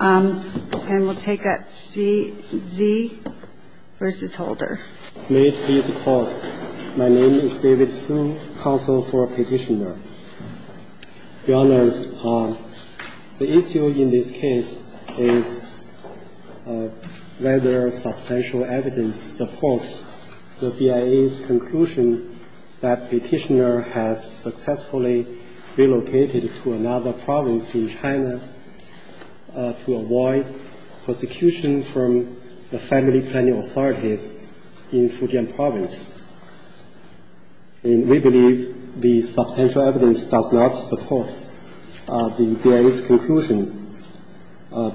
May it please the Court, my name is David Sun, counsel for Petitioner. Your Honours, the issue in this case is whether substantial evidence supports the BIA's conclusion that Petitioner has successfully relocated to another province in China. to avoid prosecution from the family planning authorities in Fujian province. And we believe the substantial evidence does not support the BIA's conclusion,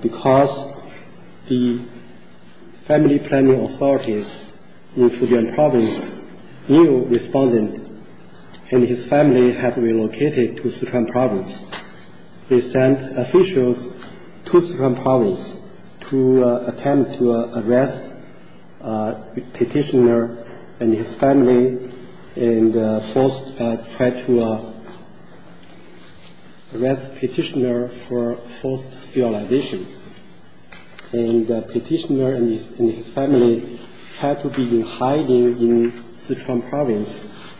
because the family planning authorities in Fujian province knew the respondent and his family had relocated to Sichuan province. They sent officials to Sichuan province to attempt to arrest Petitioner and his family and try to arrest Petitioner for forced sterilization. And Petitioner and his family had to be hiding in Sichuan province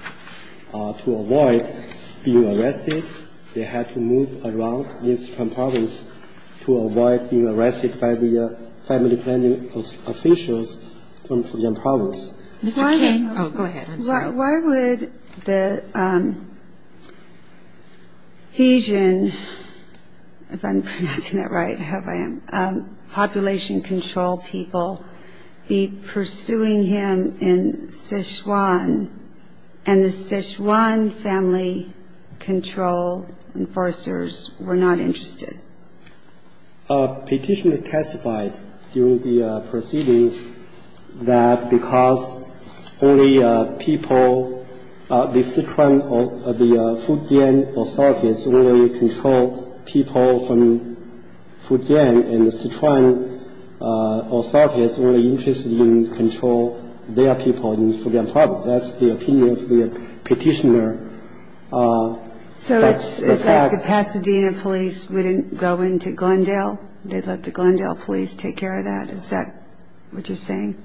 to avoid being arrested. They had to move around in Sichuan province to avoid being arrested by the family planning officials from Fujian province. Why would the Fujian population control people be pursuing him in Sichuan and the Sichuan family control enforcers were not interested? Petitioner testified during the proceedings that because only people, the Sichuan or the Fujian authorities only control people from Fujian and the Sichuan authorities were only interested in controlling their people in Fujian province. That's the opinion of the Petitioner. So it's like the Pasadena police wouldn't go into Glendale? They'd let the Glendale police take care of that? Is that what you're saying?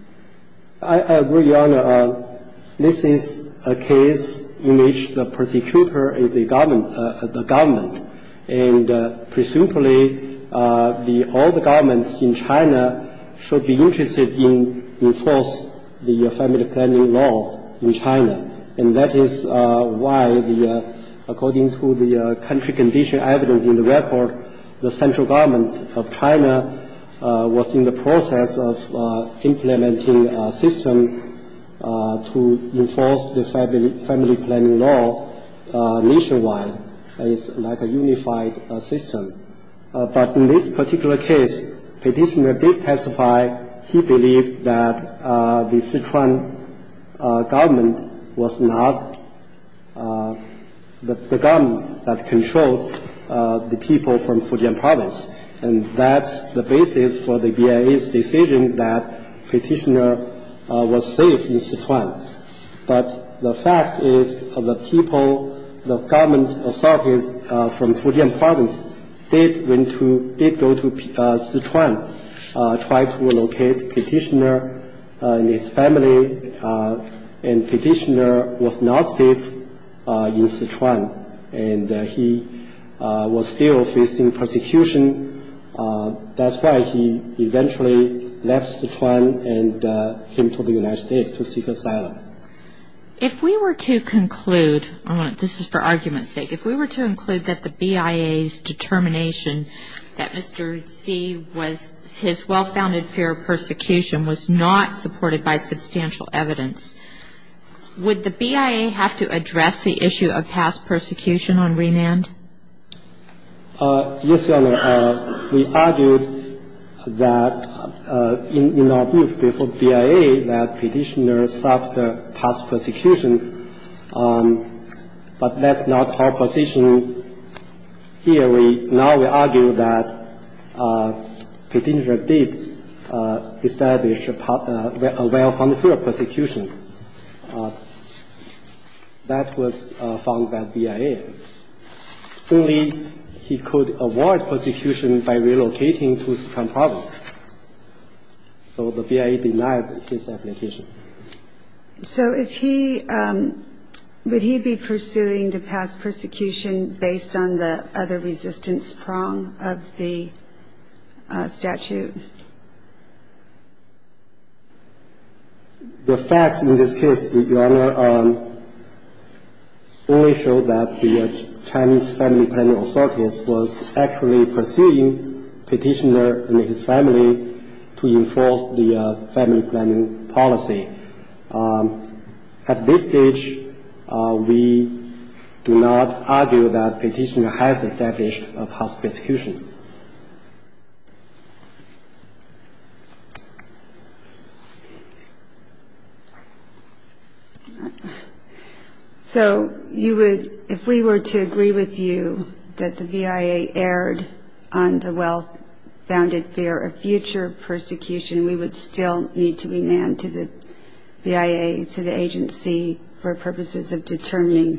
I agree, Your Honor. This is a case in which the prosecutor is the government. And presumably all the governments in China should be interested in enforcing the family planning law in China. And that is why, according to the country condition evidence in the record, the central government of China was in the process of implementing a system to enforce the family planning law nationwide. It's like a unified system. But in this particular case, Petitioner did testify he believed that the Sichuan government was not the government that controlled the people from Fujian province. And that's the basis for the BIA's decision that Petitioner was safe in Sichuan. But the fact is the people, the government authorities from Fujian province did go to Sichuan, tried to locate Petitioner and his family, and Petitioner was not safe in Sichuan. And he was still facing persecution. That's why he eventually left Sichuan and came to the United States to seek asylum. If we were to conclude, this is for argument's sake, if we were to conclude that the BIA's determination that Mr. Xi, his well-founded fear of persecution, was not supported by substantial evidence, would the BIA have to address the issue of past persecution on Renand? Yes, Your Honor. We argued that in our brief before BIA that Petitioner suffered past persecution. But that's not our position here. Now we argue that Petitioner did establish a well-founded fear of persecution. That was found by BIA. Only he could avoid persecution by relocating to Sichuan province. So the BIA denied his application. So is he, would he be pursuing the past persecution based on the other resistance prong of the statute? The facts in this case, Your Honor, only show that the Chinese family planning authorities was actually pursuing Petitioner and his family to enforce the family planning policy. At this stage, we do not argue that Petitioner has established a past persecution. Thank you. So you would, if we were to agree with you that the BIA erred on the well-founded fear of future persecution, we would still need to remand to the BIA, to the agency, for purposes of determining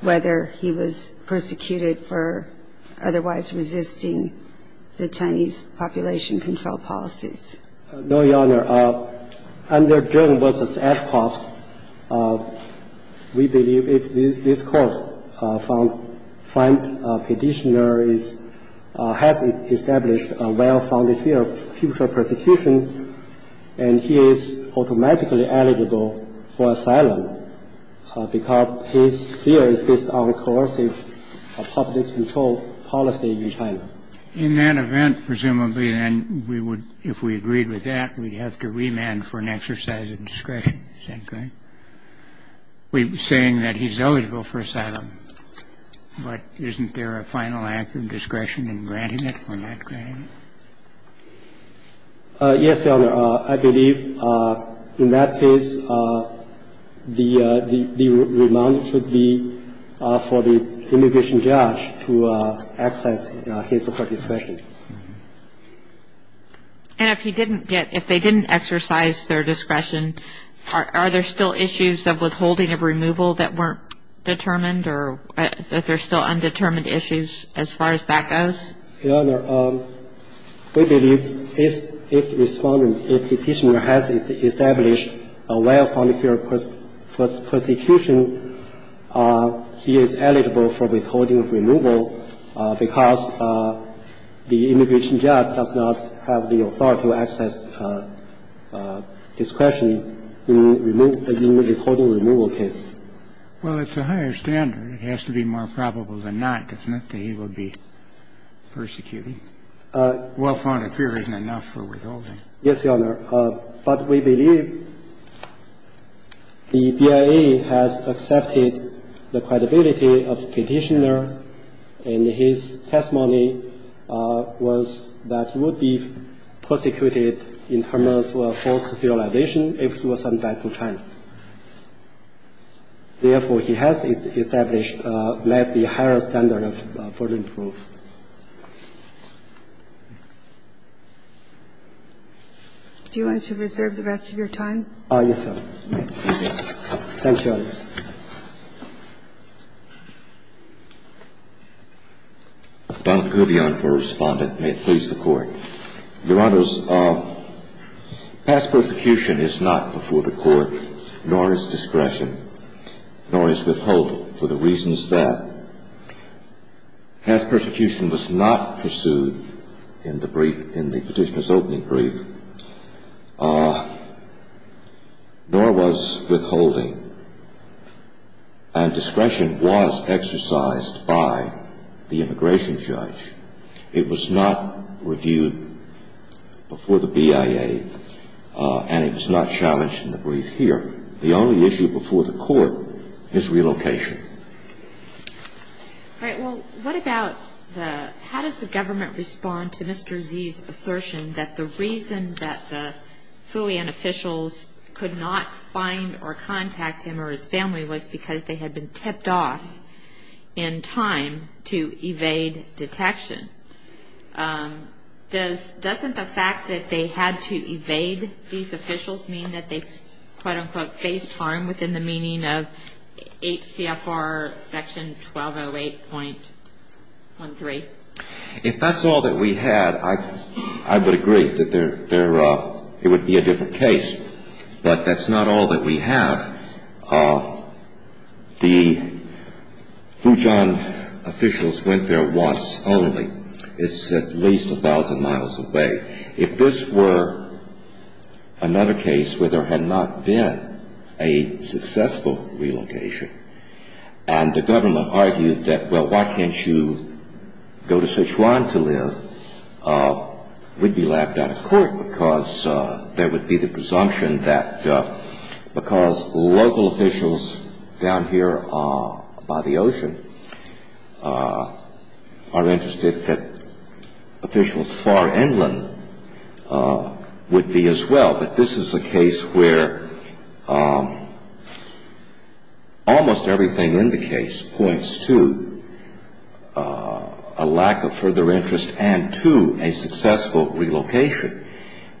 whether he was persecuted for otherwise resisting the Chinese population control policies? No, Your Honor. Under Joan Wilson's ad hoc, we believe if this court found Petitioner has established a well-founded fear of future persecution, and he is automatically eligible for asylum because his fear is based on coercive public control policy in China. In that event, presumably then we would, if we agreed with that, we'd have to remand for an exercise of discretion, is that correct? We're saying that he's eligible for asylum, but isn't there a final act of discretion in granting it or not granting it? Yes, Your Honor. I believe in that case the remand should be for the immigration judge to exercise his discretion. And if he didn't get, if they didn't exercise their discretion, are there still issues of withholding of removal that weren't determined, or that there's still undetermined issues as far as that goes? Your Honor, we believe if Respondent, if Petitioner has established a well-founded fear of persecution, he is eligible for withholding of removal because the immigration judge does not have the authority or access, discretion in withholding removal case. Well, it's a higher standard. It has to be more probable than not, doesn't it, that he would be persecuted? Well-founded fear isn't enough for withholding. Yes, Your Honor. But we believe the BIA has accepted the credibility of Petitioner, and his testimony was that he would be persecuted in terms of forced sterilization if he was sent back to China. Therefore, he has established that the higher standard of burden proof. Do you want to reserve the rest of your time? Yes, Your Honor. Thank you. Thank you, Your Honor. Donald Kubion for Respondent. May it please the Court. Your Honors, past persecution is not before the Court, nor is discretion, nor is withholding, for the reasons that past persecution was not pursued in the Petitioner's opening brief, nor was withholding. And discretion was exercised by the immigration judge. It was not reviewed before the BIA, and it was not challenged in the brief here. The only issue before the Court is relocation. All right. Well, what about the how does the government respond to Mr. Z's assertion that the reason that the Fouillon officials could not find or contact him or his family was because they had been tipped off in time to evade detection? Doesn't the fact that they had to evade these officials mean that they, quote-unquote, faced harm within the meaning of 8 CFR Section 1208.13? If that's all that we have, I would agree that it would be a different case. But that's not all that we have. The Fouillon officials went there once only. It's at least 1,000 miles away. If this were another case where there had not been a successful relocation, and the government argued that, well, why can't you go to Sichuan to live, we'd be laughed out of court because there would be the presumption that because local officials down here by the ocean are interested that officials far inland would be as well. But this is a case where almost everything in the case points to a lack of further interest and to a successful relocation.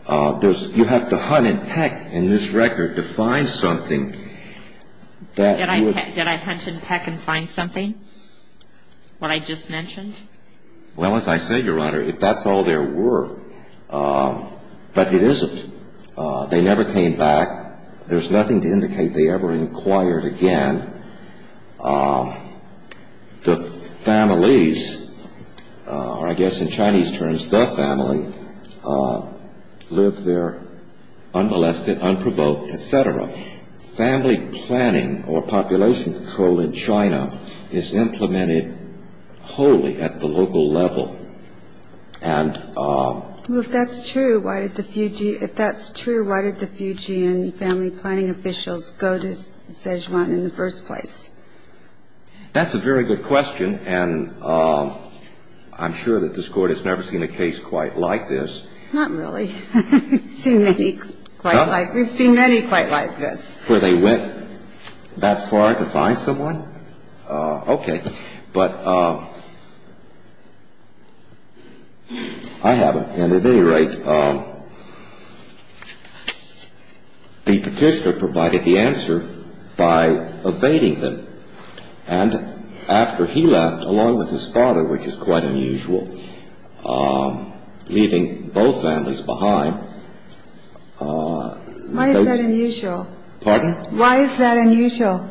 You have to hunt and peck in this record to find something. Did I hunt and peck and find something, what I just mentioned? Well, as I said, Your Honor, if that's all there were. But it isn't. They never came back. There's nothing to indicate they ever inquired again. The families, or I guess in Chinese terms, the family, lived there unmolested, unprovoked, et cetera. Family planning or population control in China is implemented wholly at the local level. If that's true, why did the Fujian family planning officials go to Sichuan in the first place? That's a very good question, and I'm sure that this Court has never seen a case quite like this. Not really. We've seen many quite like this. Where they went that far to find someone? Okay. But I haven't. And at any rate, the petitioner provided the answer by evading them. And after he left, along with his father, which is quite unusual, leaving both families behind. Why is that unusual? Pardon? Why is that unusual?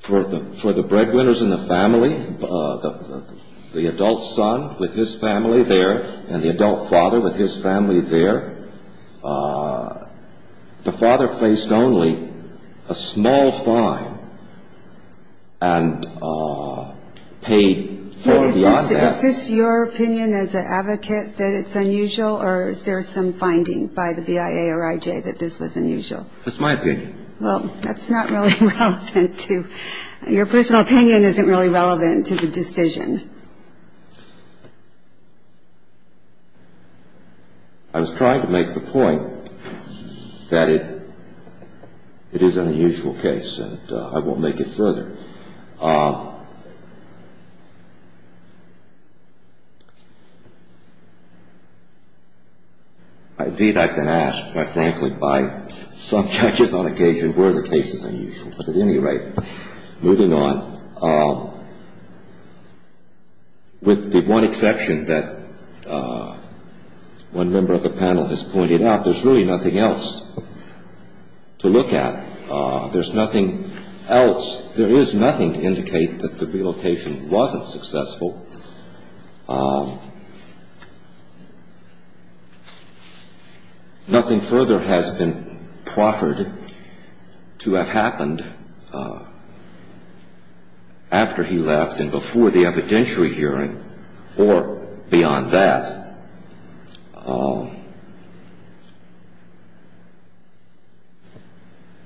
For the breadwinners in the family, the adult son with his family there and the adult father with his family there, the father faced only a small fine and paid far beyond that. Is this your opinion as an advocate that it's unusual, or is there some finding by the BIA or IJ that this was unusual? It's my opinion. Well, that's not really relevant to your personal opinion isn't really relevant to the decision. I was trying to make the point that it is an unusual case, and I won't make it further. Indeed, I've been asked, quite frankly, by some judges on occasion, were the cases unusual? But at any rate, moving on, with the one exception that one member of the panel has pointed out, there's really nothing else to look at. There's nothing else. There is nothing to indicate that the relocation wasn't successful. Nothing further has been proffered to have happened after he left and before the evidentiary hearing or beyond that.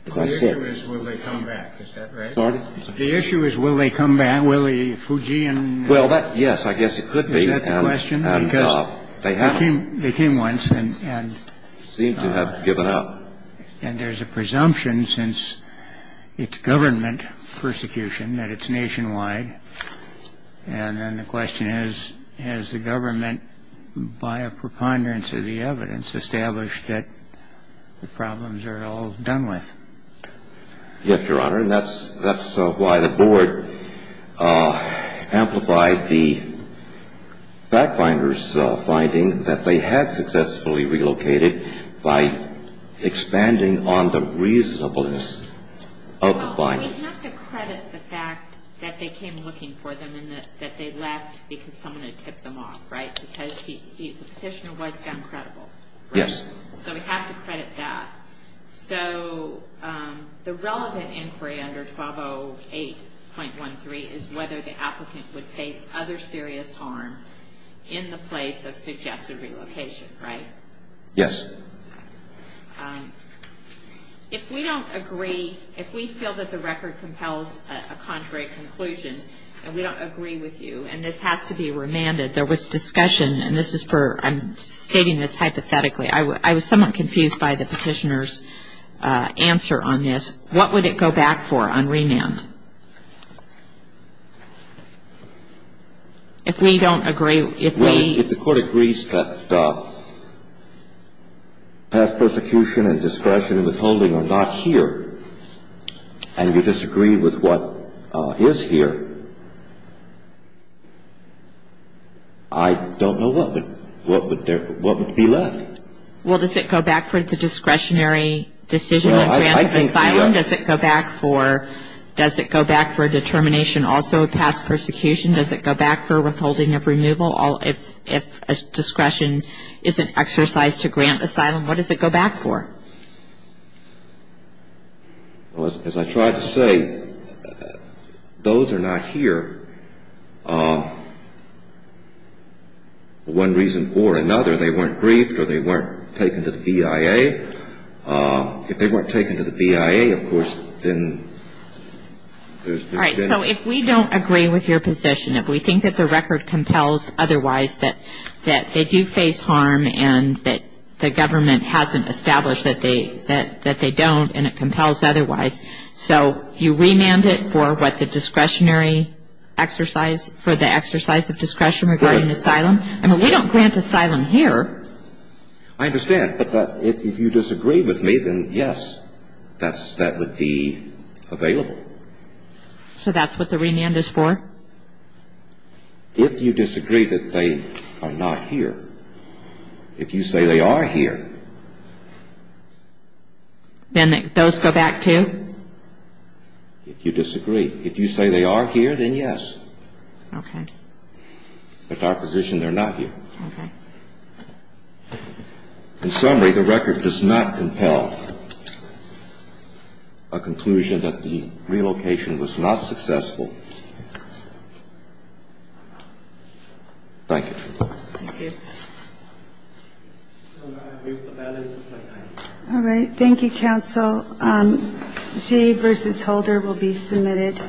The issue is will they come back. Is that right? Pardon? The issue is will they come back? Will the Fujian? Well, yes, I guess it could be. Is that the question? Because they came once and seem to have given up. And there's a presumption since it's government persecution that it's nationwide. And then the question is, has the government, by a preponderance of the evidence, established that the problems are all done with? Yes, Your Honor. And that's why the board amplified the back finder's finding that they had successfully relocated by expanding on the reasonableness of the finding. Well, we have to credit the fact that they came looking for them and that they left because someone had tipped them off, right? Because the petitioner was found credible. Yes. So we have to credit that. So the relevant inquiry under 1208.13 is whether the applicant would face other serious harm in the place of suggested relocation, right? Yes. If we don't agree, if we feel that the record compels a contrary conclusion and we don't agree with you, and this has to be remanded, and this is for ‑‑ I'm stating this hypothetically. I was somewhat confused by the petitioner's answer on this. What would it go back for on remand? If we don't agree, if we ‑‑ I don't know what would be left. Well, does it go back for the discretionary decision to grant asylum? Does it go back for determination also of past persecution? Does it go back for withholding of removal if discretion isn't exercised to grant asylum? What does it go back for? As I tried to say, those are not here for one reason or another. They weren't briefed or they weren't taken to the BIA. If they weren't taken to the BIA, of course, then there's ‑‑ All right. So if we don't agree with your position, if we think that the record compels otherwise, that they do face harm and that the government hasn't established that they don't and it compels otherwise, so you remand it for what, the discretionary exercise, for the exercise of discretion regarding asylum? Right. I mean, we don't grant asylum here. I understand, but if you disagree with me, then yes, that would be available. So that's what the remand is for? If you disagree that they are not here, if you say they are here ‑‑ Then those go back, too? If you disagree. If you say they are here, then yes. Okay. But our position, they're not here. Okay. In summary, the record does not compel a conclusion that the relocation was not successful Thank you. Thank you. All right. Thank you, counsel. G versus Holder will be submitted.